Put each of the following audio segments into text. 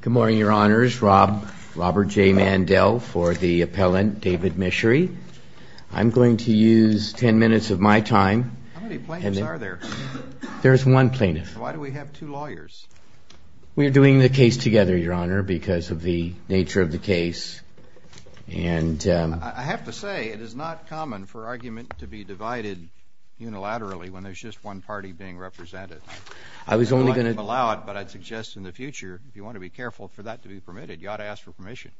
Good morning, Your Honors. Robert J. Mandel for the appellant, David Michery. I'm going to use 10 minutes of my time. How many plaintiffs are there? There's one plaintiff. Why do we have two lawyers? We're doing the case together, Your Honor, because of the nature of the case. I have to say, it is not common for argument to be divided unilaterally when there's just one party being represented. I'd like to allow it, but I'd suggest in the future, if you want to be careful for that to be permitted, you ought to ask for permission.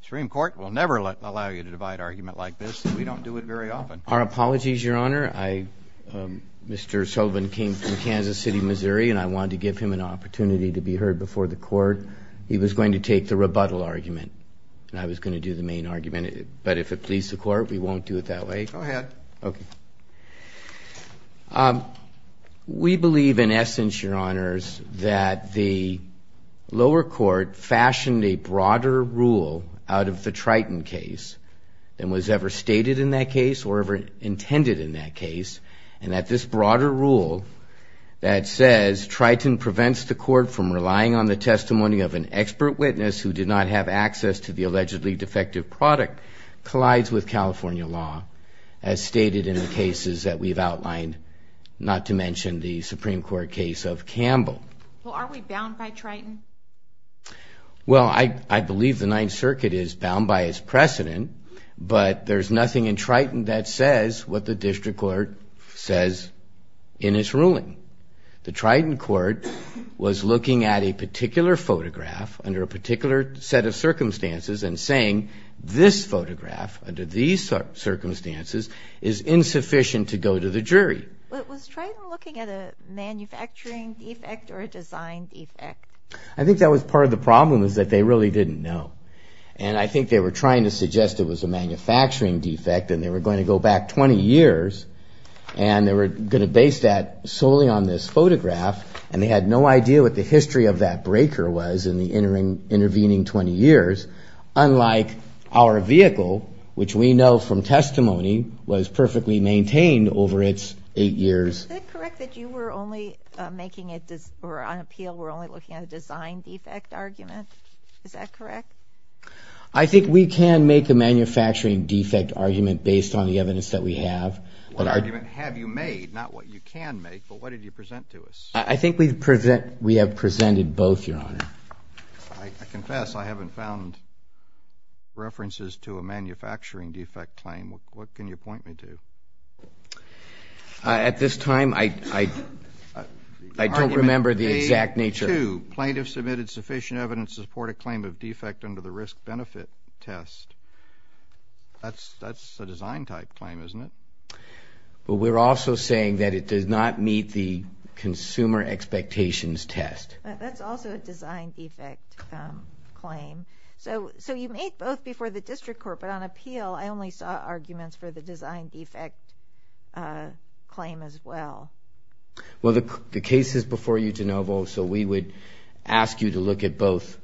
The Supreme Court will never allow you to divide argument like this, and we don't do it very often. Our apologies, Your Honor. Mr. Sullivan came from Kansas City, Missouri, and I wanted to give him an opportunity to be heard before the court. He was going to take the rebuttal argument, and I was going to do the main argument, but if it pleases the court, we won't do it that way. Go ahead. We believe, in essence, Your Honors, that the lower court fashioned a broader rule out of the Triton case than was ever stated in that case or ever intended in that case, and that this broader rule that says Triton prevents the court from relying on the testimony of an expert witness who did not have access to the allegedly defective product collides with California law. As stated in the cases that we've outlined, not to mention the Supreme Court case of Campbell. Well, aren't we bound by Triton? Well, I believe the Ninth Circuit is bound by its precedent, but there's nothing in Triton that says what the district court says in its ruling. The Triton court was looking at a particular photograph under a particular set of circumstances and saying, this photograph under these circumstances is insufficient to go to the jury. Was Triton looking at a manufacturing defect or a design defect? I think that was part of the problem is that they really didn't know, and I think they were trying to suggest it was a manufacturing defect and they were going to go back 20 years, and they were going to base that solely on this photograph, and they had no idea what the history of that breaker was in the intervening 20 years, unlike our vehicle, which we know from testimony was perfectly maintained over its eight years. Is it correct that you were only making it, or on appeal were only looking at a design defect argument? Is that correct? I think we can make a manufacturing defect argument based on the evidence that we have. What argument have you made, not what you can make, but what did you present to us? I think we have presented both, Your Honor. I confess I haven't found references to a manufacturing defect claim. What can you point me to? At this time, I don't remember the exact nature. Argument made to plaintiff submitted sufficient evidence to support a claim of defect under the risk-benefit test. That's a design-type claim, isn't it? Well, we're also saying that it does not meet the consumer expectations test. That's also a design defect claim. So you made both before the district court, but on appeal, I only saw arguments for the design defect claim as well. Well, the case is before you, DeNovo, so we would ask you to look at both.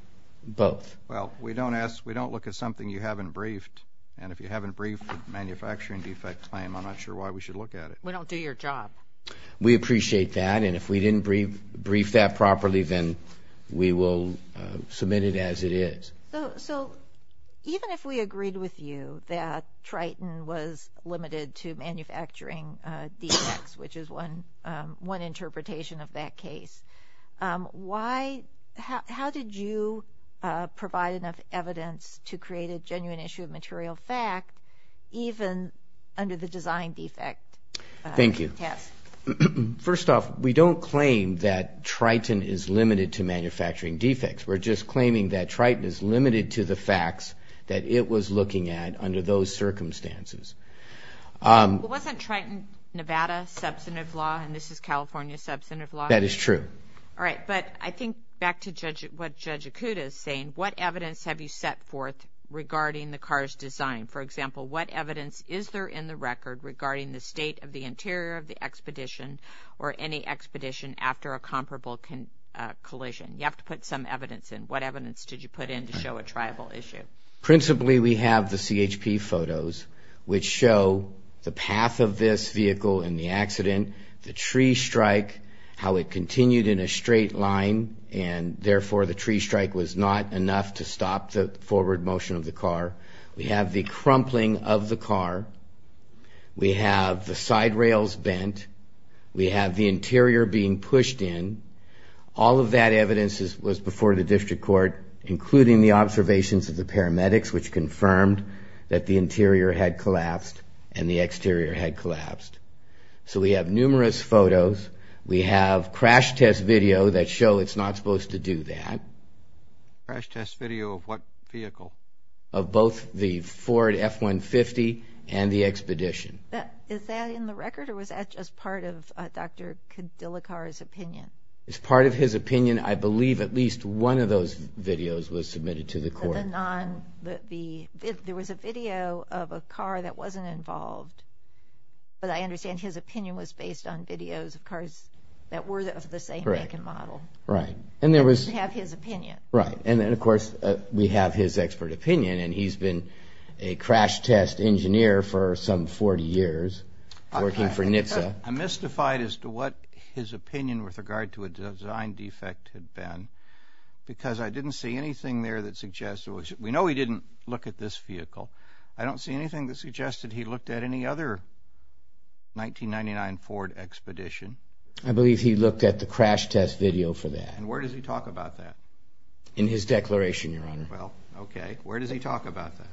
Well, we don't look at something you haven't briefed, and if you haven't briefed the manufacturing defect claim, I'm not sure why we should look at it. We don't do your job. We appreciate that, and if we didn't brief that properly, then we will submit it as it is. So even if we agreed with you that Triton was limited to manufacturing defects, which is one interpretation of that case, how did you provide enough evidence to create a genuine issue of material fact even under the design defect test? Thank you. First off, we don't claim that Triton is limited to manufacturing defects. We're just claiming that Triton is limited to the facts that it was looking at under those circumstances. But wasn't Triton, Nevada, substantive law, and this is California substantive law? That is true. All right, but I think back to what Judge Akuta is saying, what evidence have you set forth regarding the car's design? For example, what evidence is there in the record regarding the state of the interior of the expedition or any expedition after a comparable collision? You have to put some evidence in. What evidence did you put in to show a triable issue? Principally, we have the CHP photos, which show the path of this vehicle in the accident, the tree strike, how it continued in a straight line, and therefore the tree strike was not enough to stop the forward motion of the car. We have the crumpling of the car. We have the side rails bent. We have the interior being pushed in. All of that evidence was before the district court, including the observations of the paramedics, which confirmed that the interior had collapsed and the exterior had collapsed. So we have numerous photos. We have crash test video that show it's not supposed to do that. Crash test video of what vehicle? Of both the Ford F-150 and the expedition. Is that in the record or was that just part of Dr. Khadilakar's opinion? It's part of his opinion. I believe at least one of those videos was submitted to the court. There was a video of a car that wasn't involved, but I understand his opinion was based on videos of cars that were of the same make and model. Right. And you have his opinion. Right. And then, of course, we have his expert opinion, and he's been a crash test engineer for some 40 years working for NHTSA. I'm mystified as to what his opinion with regard to a design defect had been because I didn't see anything there that suggested it was. We know he didn't look at this vehicle. I don't see anything that suggested he looked at any other 1999 Ford expedition. I believe he looked at the crash test video for that. And where does he talk about that? In his declaration, Your Honor. Well, okay. Where does he talk about that?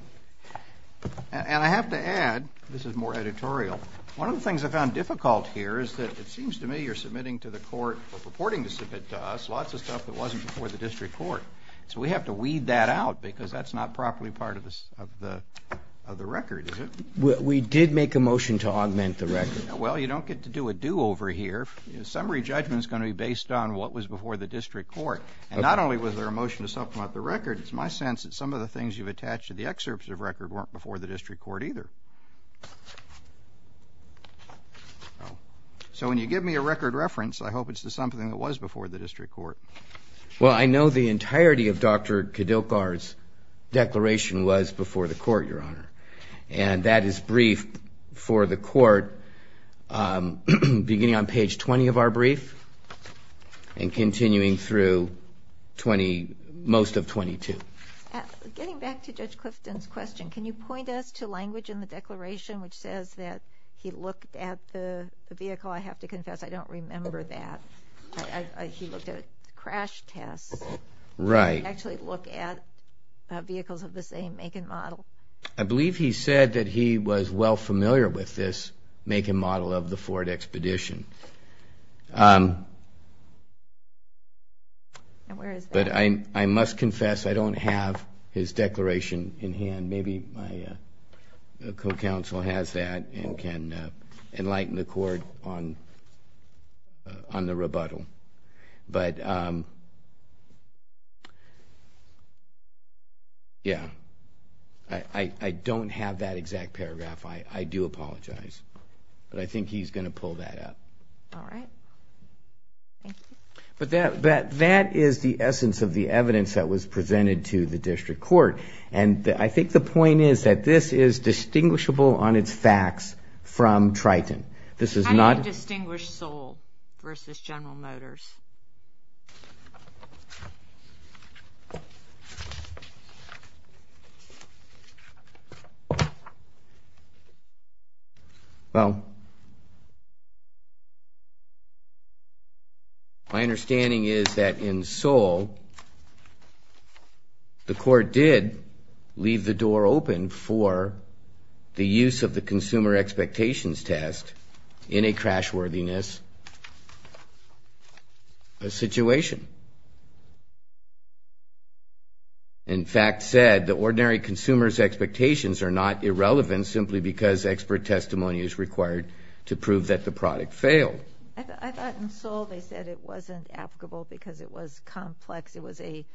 And I have to add, this is more editorial, one of the things I found difficult here is that it seems to me you're submitting to the court or purporting to submit to us lots of stuff that wasn't before the district court. So we have to weed that out because that's not properly part of the record, is it? We did make a motion to augment the record. Well, you don't get to do a do over here. Summary judgment is going to be based on what was before the district court. And not only was there a motion to supplement the record, it's my sense that some of the things you've attached to the excerpts of the record weren't before the district court either. So when you give me a record reference, I hope it's the something that was before the district court. Well, I know the entirety of Dr. Kadilkar's declaration was before the court, Your Honor. And that is briefed for the court beginning on page 20 of our brief and continuing through most of 22. Getting back to Judge Clifton's question, can you point us to language in the declaration which says that he looked at the vehicle? I have to confess I don't remember that. He looked at a crash test. He didn't actually look at vehicles of the same make and model. I believe he said that he was well familiar with this make and model of the Ford Expedition. But I must confess I don't have his declaration in hand. Maybe my co-counsel has that and can enlighten the court on the rebuttal. But, yeah, I don't have that exact paragraph. I do apologize. But I think he's going to pull that up. All right. Thank you. But that is the essence of the evidence that was presented to the district court. And I think the point is that this is distinguishable on its facts from Triton. How do you distinguish Soel versus General Motors? My understanding is that in Soel, the court did leave the door open for the use of the consumer expectations test in a crashworthiness situation. In fact said, the ordinary consumer's expectations are not irrelevant simply because expert testimony is required to prove that the product failed. I thought in Soel they said it wasn't applicable because it was complex. It was a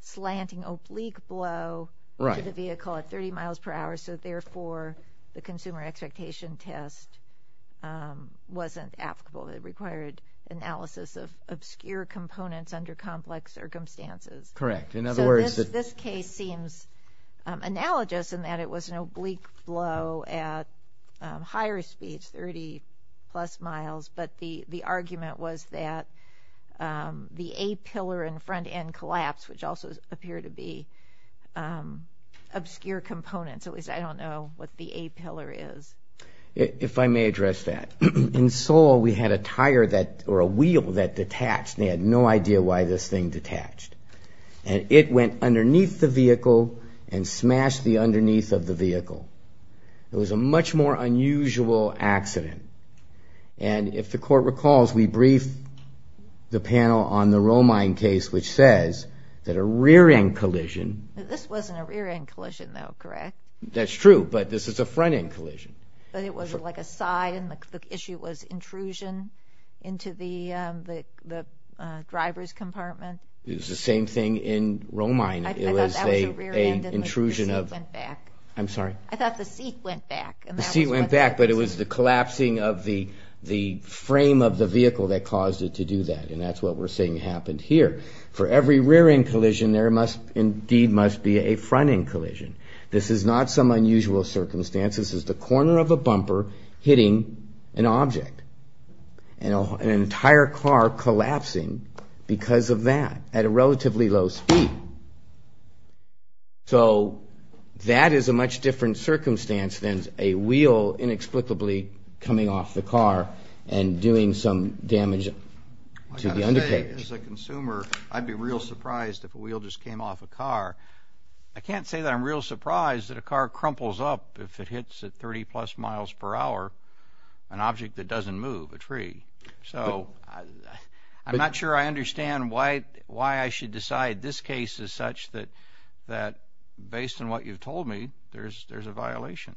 slanting oblique blow to the vehicle at 30 miles per hour. So, therefore, the consumer expectation test wasn't applicable. It required analysis of obscure components under complex circumstances. Correct. So, this case seems analogous in that it was an oblique blow at higher speeds, 30 plus miles. But the argument was that the A-pillar and front end collapsed, which also appear to be obscure components. At least I don't know what the A-pillar is. If I may address that. In Soel, we had a tire or a wheel that detached and they had no idea why this thing detached. And it went underneath the vehicle and smashed the underneath of the vehicle. It was a much more unusual accident. And if the court recalls, we briefed the panel on the Romine case, which says that a rear-end collision. This wasn't a rear-end collision, though, correct? That's true, but this is a front-end collision. But it was like a side and the issue was intrusion into the driver's compartment. It was the same thing in Romine. I thought that was a rear-end and the seat went back. I'm sorry? I thought the seat went back. The seat went back, but it was the collapsing of the frame of the vehicle that caused it to do that. And that's what we're saying happened here. For every rear-end collision, there must indeed be a front-end collision. This is not some unusual circumstance. This is the corner of a bumper hitting an object. And an entire car collapsing because of that at a relatively low speed. So that is a much different circumstance than a wheel inexplicably coming off the car and doing some damage to the undercarriage. As a consumer, I'd be real surprised if a wheel just came off a car. I can't say that I'm real surprised that a car crumples up if it hits at 30-plus miles per hour an object that doesn't move, a tree. So I'm not sure I understand why I should decide this case is such that, based on what you've told me, there's a violation.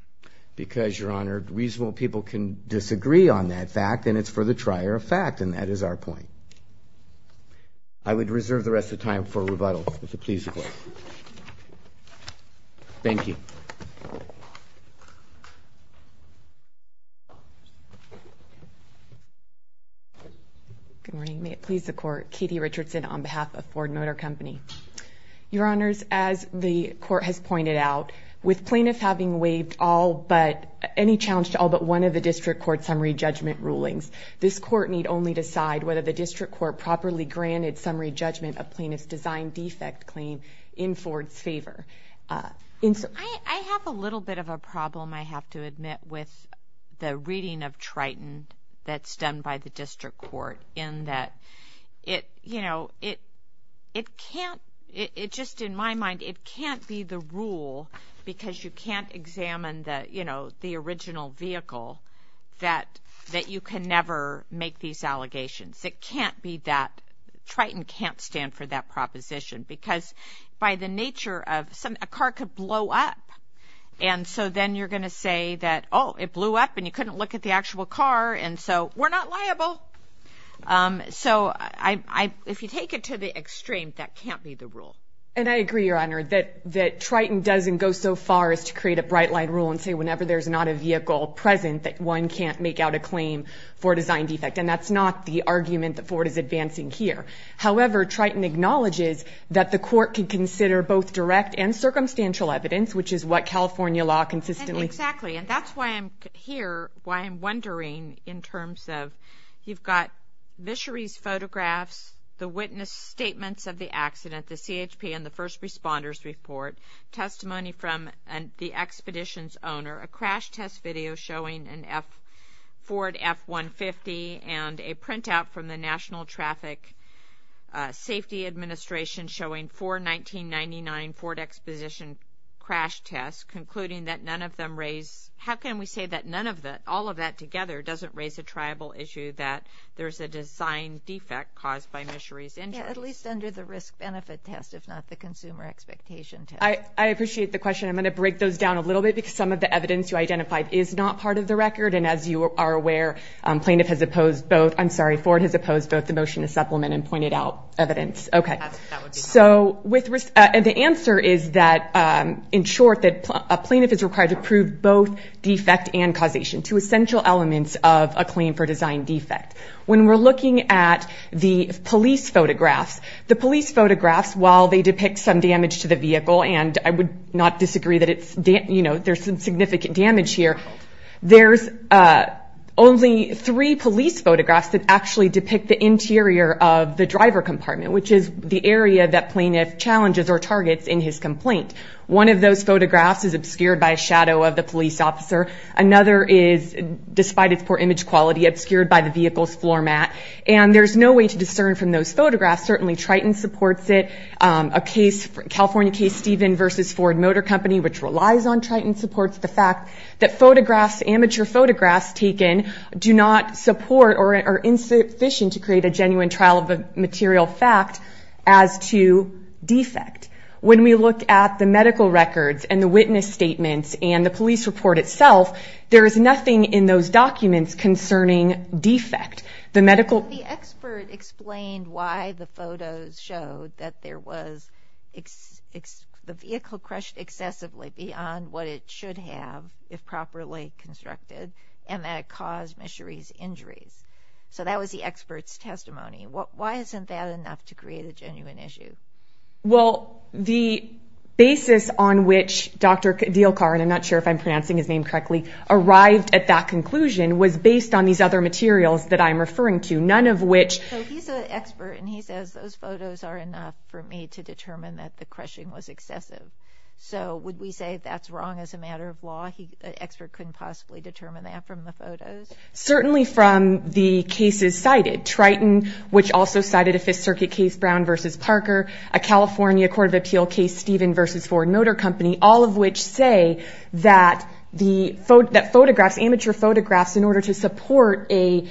Because, Your Honor, reasonable people can disagree on that fact, and it's for the trier of fact, and that is our point. I would reserve the rest of the time for rebuttal, if it pleases the Court. Thank you. Good morning. May it please the Court. Katie Richardson on behalf of Ford Motor Company. Your Honors, as the Court has pointed out, with plaintiffs having waived any challenge to all but one of the District Court summary judgment rulings, this Court need only decide whether the District Court properly granted summary judgment of plaintiff's design defect claim in Ford's favor. I have a little bit of a problem, I have to admit, with the reading of Triton that's done by the District Court, in that it can't, just in my mind, it can't be the rule, because you can't examine the original vehicle, that you can never make these allegations. It can't be that, Triton can't stand for that proposition, because by the nature of, a car could blow up. And so then you're going to say that, oh, it blew up, and you couldn't look at the actual car, and so we're not liable. So if you take it to the extreme, that can't be the rule. And I agree, Your Honor, that Triton doesn't go so far as to create a bright-light rule and say whenever there's not a vehicle present, that one can't make out a claim for design defect, and that's not the argument that Ford is advancing here. However, Triton acknowledges that the Court can consider both direct and circumstantial evidence, which is what California law consistently says. Exactly, and that's why I'm here, why I'm wondering in terms of, you've got Vichery's photographs, the witness statements of the accident, the CHP and the first responders report, testimony from the expedition's owner, a crash test video showing a Ford F-150, and a printout from the National Traffic Safety Administration showing four 1999 Ford Exposition crash tests, concluding that none of them raise, how can we say that none of the, all of that together doesn't raise a tribal issue that there's a design defect caused by Vichery's injuries? Yeah, at least under the risk-benefit test, if not the consumer expectation test. I appreciate the question. I'm going to break those down a little bit because some of the evidence you identified is not part of the record, and as you are aware, plaintiff has opposed both, I'm sorry, Ford has opposed both the motion to supplement and pointed out evidence. So the answer is that, in short, that a plaintiff is required to prove both defect and causation, two essential elements of a claim for design defect. When we're looking at the police photographs, the police photographs, while they depict some damage to the vehicle, and I would not disagree that there's some significant damage here, there's only three police photographs that actually depict the interior of the driver compartment, which is the area that plaintiff challenges or targets in his complaint. One of those photographs is obscured by a shadow of the police officer. Another is, despite its poor image quality, obscured by the vehicle's floor mat, and there's no way to discern from those photographs. Certainly Triton supports it. A case, California case, Stephen v. Ford Motor Company, which relies on Triton, supports the fact that photographs, amateur photographs taken, do not support or are insufficient to create a genuine trial of a material fact as to defect. When we look at the medical records and the witness statements and the police report itself, there is nothing in those documents concerning defect. The medical... should have, if properly constructed, and that it caused Micherie's injuries. So that was the expert's testimony. Why isn't that enough to create a genuine issue? Well, the basis on which Dr. Dielkar, and I'm not sure if I'm pronouncing his name correctly, arrived at that conclusion was based on these other materials that I'm referring to, none of which... So he's an expert, and he says those photos are enough for me to determine that the crushing was excessive. So would we say that's wrong as a matter of law? An expert couldn't possibly determine that from the photos? Certainly from the cases cited. Triton, which also cited a Fifth Circuit case, Brown v. Parker, a California court of appeal case, Stephen v. Ford Motor Company, all of which say that photographs, amateur photographs, in order to support an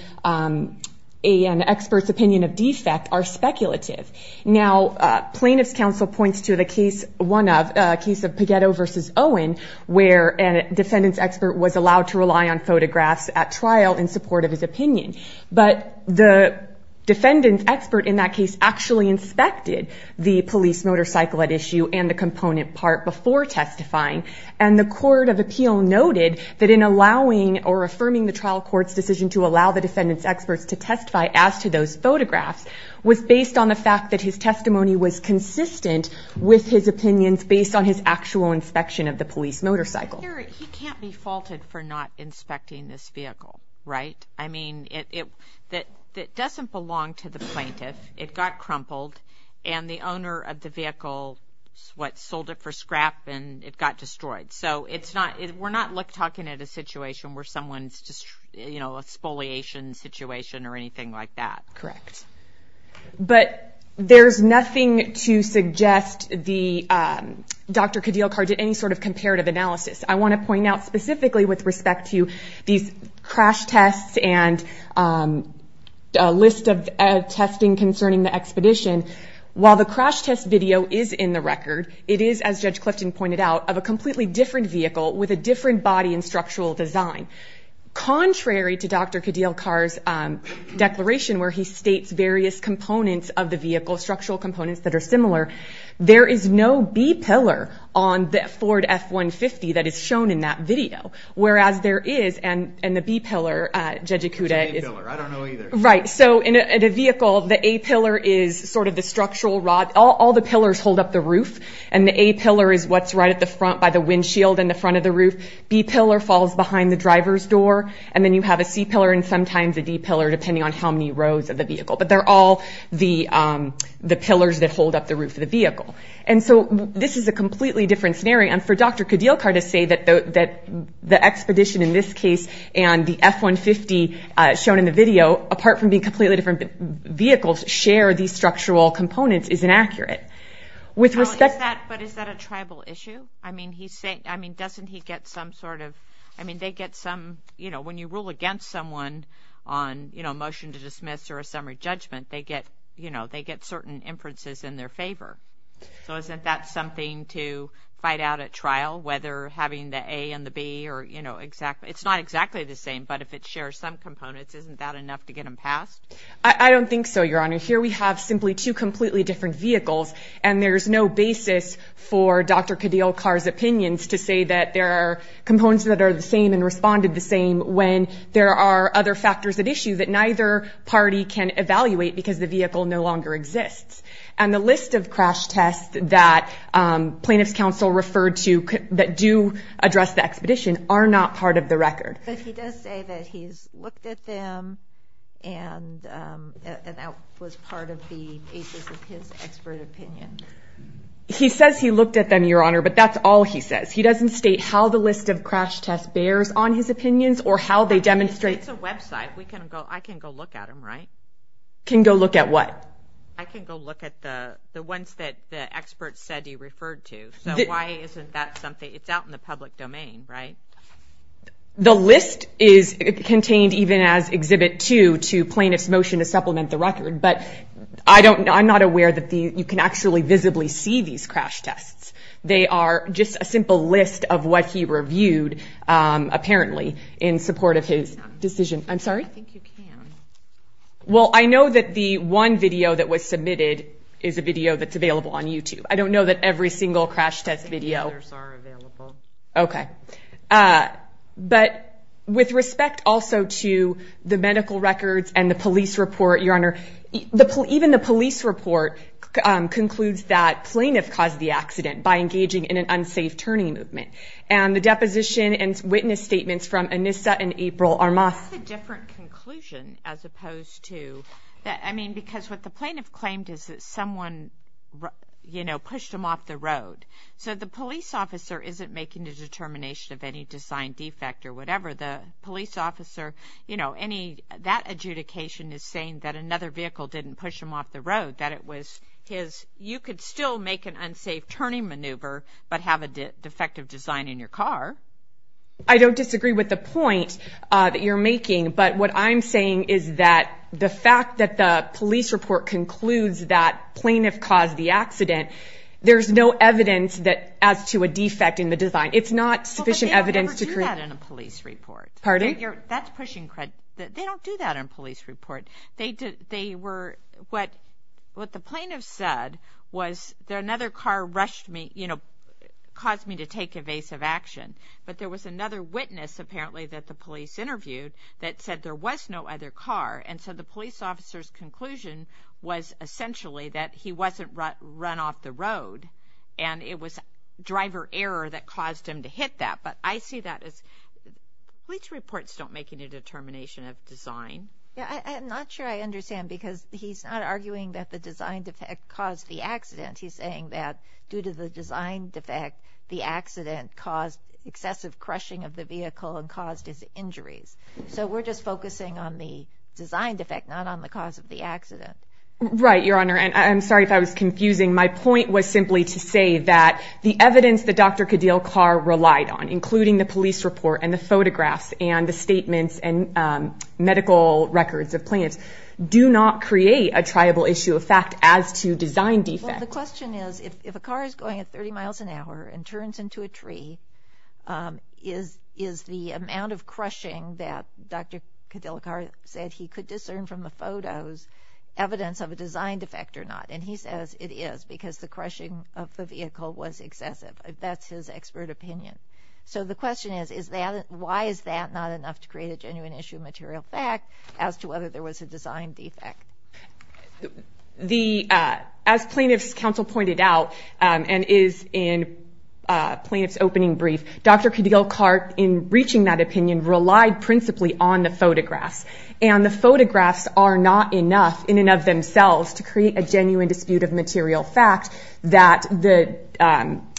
expert's opinion of defect are speculative. Now, plaintiff's counsel points to the case of Pagetto v. Owen, where a defendant's expert was allowed to rely on photographs at trial in support of his opinion. But the defendant's expert in that case actually inspected the police motorcycle at issue and the component part before testifying, and the court of appeal noted that in allowing or affirming the trial court's decision to allow the defendant's experts to testify as to those photographs was based on the fact that his testimony was consistent with his opinions based on his actual inspection of the police motorcycle. He can't be faulted for not inspecting this vehicle, right? I mean, it doesn't belong to the plaintiff. It got crumpled, and the owner of the vehicle sold it for scrap, and it got destroyed. So we're not talking at a situation where someone's just, you know, a spoliation situation or anything like that. Correct. But there's nothing to suggest Dr. Khadilkar did any sort of comparative analysis. I want to point out specifically with respect to these crash tests and a list of testing concerning the expedition, while the crash test video is in the record, it is, as Judge Clifton pointed out, of a completely different vehicle with a different body and structural design. Contrary to Dr. Khadilkar's declaration where he states various components of the vehicle, structural components that are similar, there is no B-pillar on the Ford F-150 that is shown in that video, whereas there is, and the B-pillar, Judge Ikuda is... It's an A-pillar. I don't know either. Right, so in a vehicle, the A-pillar is sort of the structural rod. All the pillars hold up the roof. And the A-pillar is what's right at the front by the windshield and the front of the roof. B-pillar falls behind the driver's door. And then you have a C-pillar and sometimes a D-pillar, depending on how many rows of the vehicle. But they're all the pillars that hold up the roof of the vehicle. And so this is a completely different scenario. And for Dr. Khadilkar to say that the expedition in this case and the F-150 shown in the video, apart from being completely different vehicles, share these structural components is inaccurate. But is that a tribal issue? I mean, doesn't he get some sort of... I mean, they get some... When you rule against someone on a motion to dismiss or a summary judgment, they get certain inferences in their favor. So isn't that something to fight out at trial, whether having the A and the B? It's not exactly the same. But if it shares some components, isn't that enough to get them passed? I don't think so, Your Honor. Here we have simply two completely different vehicles. And there's no basis for Dr. Khadilkar's opinions to say that there are components that are the same and responded the same when there are other factors at issue that neither party can evaluate because the vehicle no longer exists. And the list of crash tests that plaintiff's counsel referred to that do address the expedition are not part of the record. But he does say that he's looked at them and that was part of the basis of his expert opinion. He says he looked at them, Your Honor, but that's all he says. He doesn't state how the list of crash tests bears on his opinions or how they demonstrate... It's a website. I can go look at them, right? Can go look at what? I can go look at the ones that the experts said he referred to. So why isn't that something? It's out in the public domain, right? The list is contained even as Exhibit 2 to plaintiff's motion to supplement the record, but I'm not aware that you can actually visibly see these crash tests. They are just a simple list of what he reviewed, apparently, in support of his decision. I'm sorry? I think you can. Well, I know that the one video that was submitted is a video that's available on YouTube. I don't know that every single crash test video... I think the others are available. Okay. But with respect also to the medical records and the police report, Your Honor, even the police report concludes that plaintiff caused the accident by engaging in an unsafe turning movement. And the deposition and witness statements from Anissa and April are not... That's a different conclusion as opposed to... I mean, because what the plaintiff claimed is that someone, you know, pushed him off the road. So the police officer isn't making a determination of any design defect or whatever. The police officer, you know, any... That adjudication is saying that another vehicle didn't push him off the road, that it was his... You could still make an unsafe turning maneuver but have a defective design in your car. I don't disagree with the point that you're making, but what I'm saying is that the fact that the police report concludes that plaintiff caused the accident, there's no evidence as to a defect in the design. It's not sufficient evidence to create... Well, but they don't ever do that in a police report. Pardon? That's pushing... They don't do that in a police report. They were... What the plaintiff said was that another car rushed me, you know, caused me to take evasive action. But there was another witness, apparently, that the police interviewed that said there was no other car. And so the police officer's conclusion was essentially that he wasn't run off the road and it was driver error that caused him to hit that. But I see that as... Police reports don't make any determination of design. Yeah, I'm not sure I understand because he's not arguing that the design defect caused the accident. He's saying that due to the design defect, the accident caused excessive crushing of the vehicle and caused his injuries. So we're just focusing on the design defect, not on the cause of the accident. Right, Your Honor, and I'm sorry if I was confusing. My point was simply to say that the evidence that Dr. Khadil Carr relied on, including the police report and the photographs and the statements and medical records of plaintiffs, do not create a triable issue of fact as to design defect. Well, the question is if a car is going at 30 miles an hour and turns into a tree, is the amount of crushing that Dr. Khadil Carr said he could discern from the photos evidence of a design defect or not? And he says it is because the crushing of the vehicle was excessive. That's his expert opinion. So the question is, why is that not enough to create a genuine issue of material fact as to whether there was a design defect? As plaintiff's counsel pointed out and is in plaintiff's opening brief, Dr. Khadil Carr, in reaching that opinion, relied principally on the photographs. And the photographs are not enough in and of themselves to create a genuine dispute of material fact that the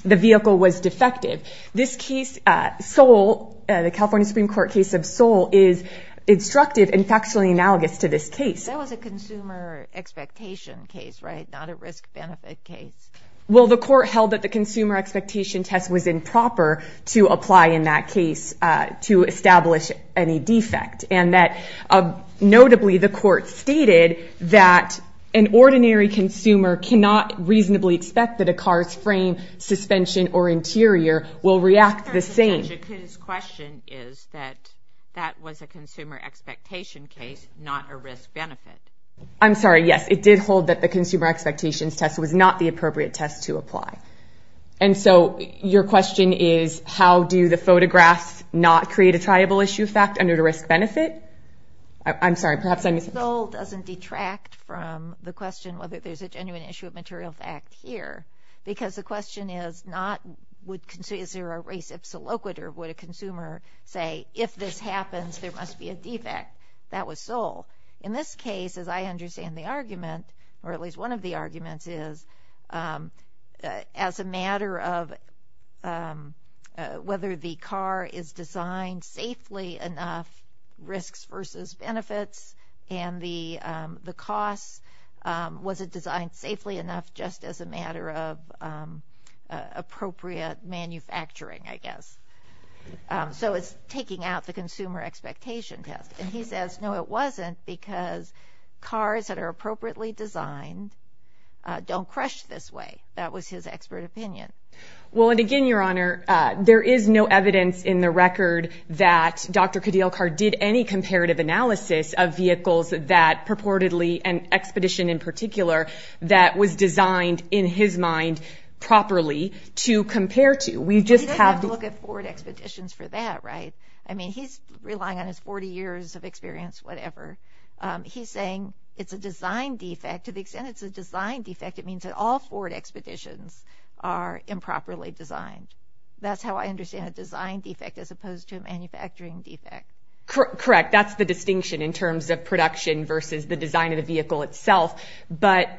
vehicle was defective. This case, Seoul, the California Supreme Court case of Seoul, is instructive and factually analogous to this case. That was a consumer expectation case, right? Not a risk-benefit case. Well, the court held that the consumer expectation test was improper to apply in that case to establish any defect, and that notably the court stated that an ordinary consumer cannot reasonably expect that a car's frame, suspension, or interior will react the same. But Jakun's question is that that was a consumer expectation case, not a risk-benefit. I'm sorry, yes, it did hold that the consumer expectations test was not the appropriate test to apply. And so your question is, how do the photographs not create a triable issue of fact under the risk-benefit? I'm sorry, perhaps I'm missing something. Seoul doesn't detract from the question whether there's a genuine issue of material fact here, because the question is not, is there a res ipsa loquitur? Would a consumer say, if this happens, there must be a defect? That was Seoul. In this case, as I understand the argument, or at least one of the arguments is, as a matter of whether the car is designed safely enough, risks versus benefits, and the cost, was it designed safely enough just as a matter of appropriate manufacturing, I guess. So it's taking out the consumer expectation test. And he says, no, it wasn't, because cars that are appropriately designed don't crush this way. That was his expert opinion. Well, and again, Your Honor, there is no evidence in the record that Dr. Cadillacar did any comparative analysis of vehicles that purportedly, an expedition in particular, that was designed in his mind properly to compare to. We just have to look at Ford expeditions for that, right? I mean, he's relying on his 40 years of experience, whatever. He's saying it's a design defect. To the extent it's a design defect, it means that all Ford expeditions are improperly designed. That's how I understand a design defect as opposed to a manufacturing defect. Correct. That's the distinction in terms of production versus the design of the vehicle itself. But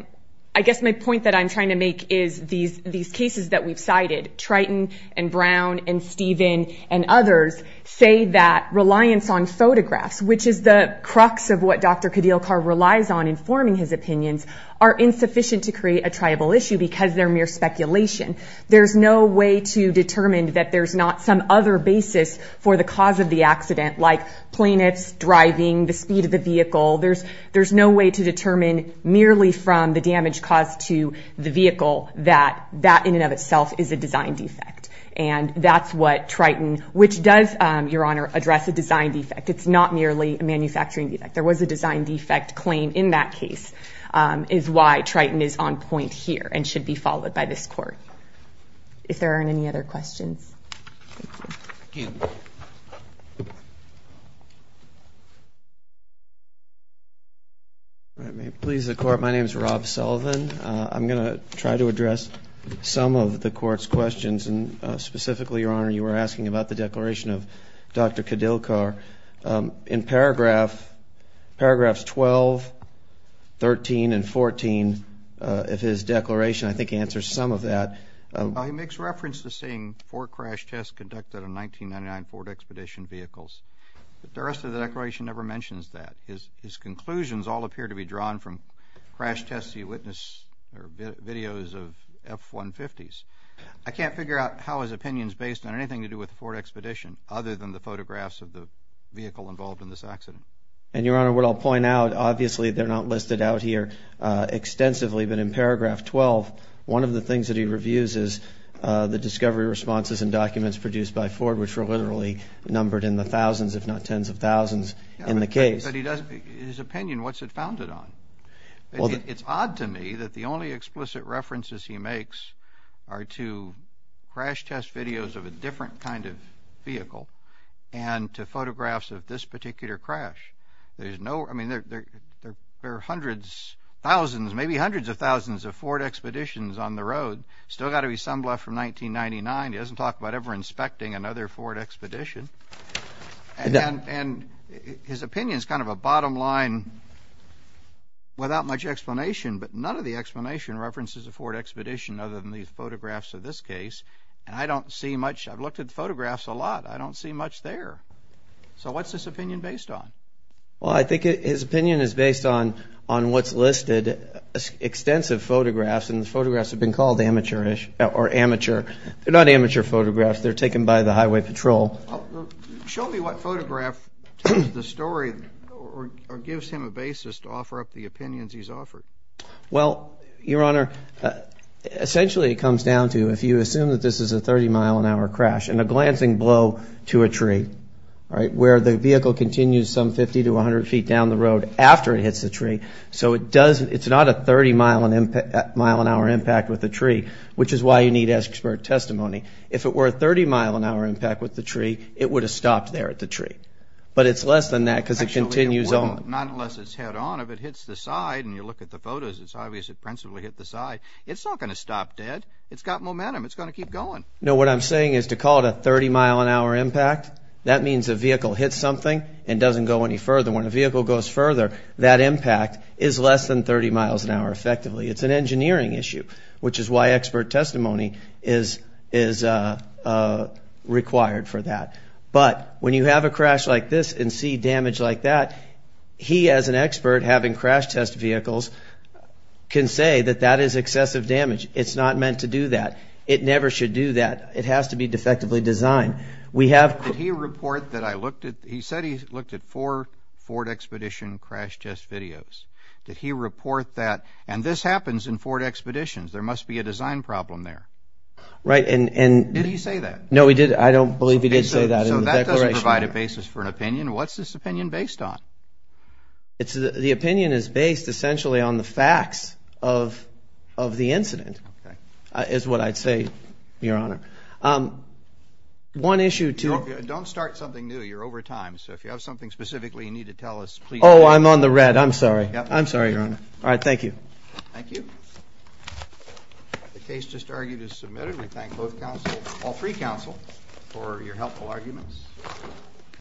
I guess my point that I'm trying to make is these cases that we've cited, Triton and Brown and Steven and others, say that reliance on photographs, which is the crux of what Dr. Cadillacar relies on in forming his opinions, are insufficient to create a triable issue because they're mere speculation. There's no way to determine that there's not some other basis for the cause of the accident, like plaintiffs driving, the speed of the vehicle. There's no way to determine merely from the damage caused to the vehicle that that in and of itself is a design defect. And that's what Triton, which does, Your Honor, address a design defect. It's not merely a manufacturing defect. There was a design defect claim in that case is why Triton is on point here and should be followed by this court. Thank you. Thank you. All right. May it please the Court, my name is Rob Sullivan. I'm going to try to address some of the Court's questions, and specifically, Your Honor, you were asking about the declaration of Dr. Cadillacar. In paragraphs 12, 13, and 14 of his declaration, I think he answers some of that. He makes reference to seeing four crash tests conducted on 1999 Ford Expedition vehicles. But the rest of the declaration never mentions that. His conclusions all appear to be drawn from crash tests he witnessed or videos of F-150s. I can't figure out how his opinion is based on anything to do with the Ford Expedition other than the photographs of the vehicle involved in this accident. And, Your Honor, what I'll point out, obviously, they're not listed out here extensively, but in paragraph 12, one of the things that he reviews is the discovery responses and documents produced by Ford, which were literally numbered in the thousands, if not tens of thousands, in the case. But his opinion, what's it founded on? It's odd to me that the only explicit references he makes are to crash test videos of a different kind of vehicle and to photographs of this particular crash. There are hundreds, thousands, maybe hundreds of thousands of Ford Expeditions on the road. Still got to be some left from 1999. He doesn't talk about ever inspecting another Ford Expedition. And his opinion is kind of a bottom line without much explanation, but none of the explanation references a Ford Expedition other than these photographs of this case. And I don't see much. I've looked at the photographs a lot. I don't see much there. So what's his opinion based on? Well, I think his opinion is based on what's listed, extensive photographs, and the photographs have been called amateurish or amateur. They're not amateur photographs. They're taken by the highway patrol. Show me what photograph tells the story or gives him a basis to offer up the opinions he's offered. Well, Your Honor, essentially it comes down to if you assume that this is a 30-mile-an-hour crash and a glancing blow to a tree, right, where the vehicle continues some 50 to 100 feet down the road after it hits the tree. So it's not a 30-mile-an-hour impact with the tree, which is why you need expert testimony. If it were a 30-mile-an-hour impact with the tree, it would have stopped there at the tree. But it's less than that because it continues on. Actually, not unless it's head-on. If it hits the side and you look at the photos, it's obvious it principally hit the side. It's not going to stop dead. It's got momentum. It's going to keep going. No, what I'm saying is to call it a 30-mile-an-hour impact, that means a vehicle hits something and doesn't go any further. When a vehicle goes further, that impact is less than 30 miles an hour effectively. It's an engineering issue, which is why expert testimony is required for that. But when you have a crash like this and see damage like that, he as an expert having crash-test vehicles can say that that is excessive damage. It's not meant to do that. It never should do that. It has to be defectively designed. He said he looked at four Ford Expedition crash-test videos. Did he report that? And this happens in Ford Expeditions. There must be a design problem there. Did he say that? No, he didn't. I don't believe he did say that in the declaration. So that doesn't provide a basis for an opinion. What's this opinion based on? The opinion is based essentially on the facts of the incident is what I'd say, Your Honor. Don't start something new. You're over time. So if you have something specifically you need to tell us, please. Oh, I'm on the red. I'm sorry. I'm sorry, Your Honor. All right. Thank you. Thank you. The case just argued is submitted. We thank all three counsel for your helpful arguments.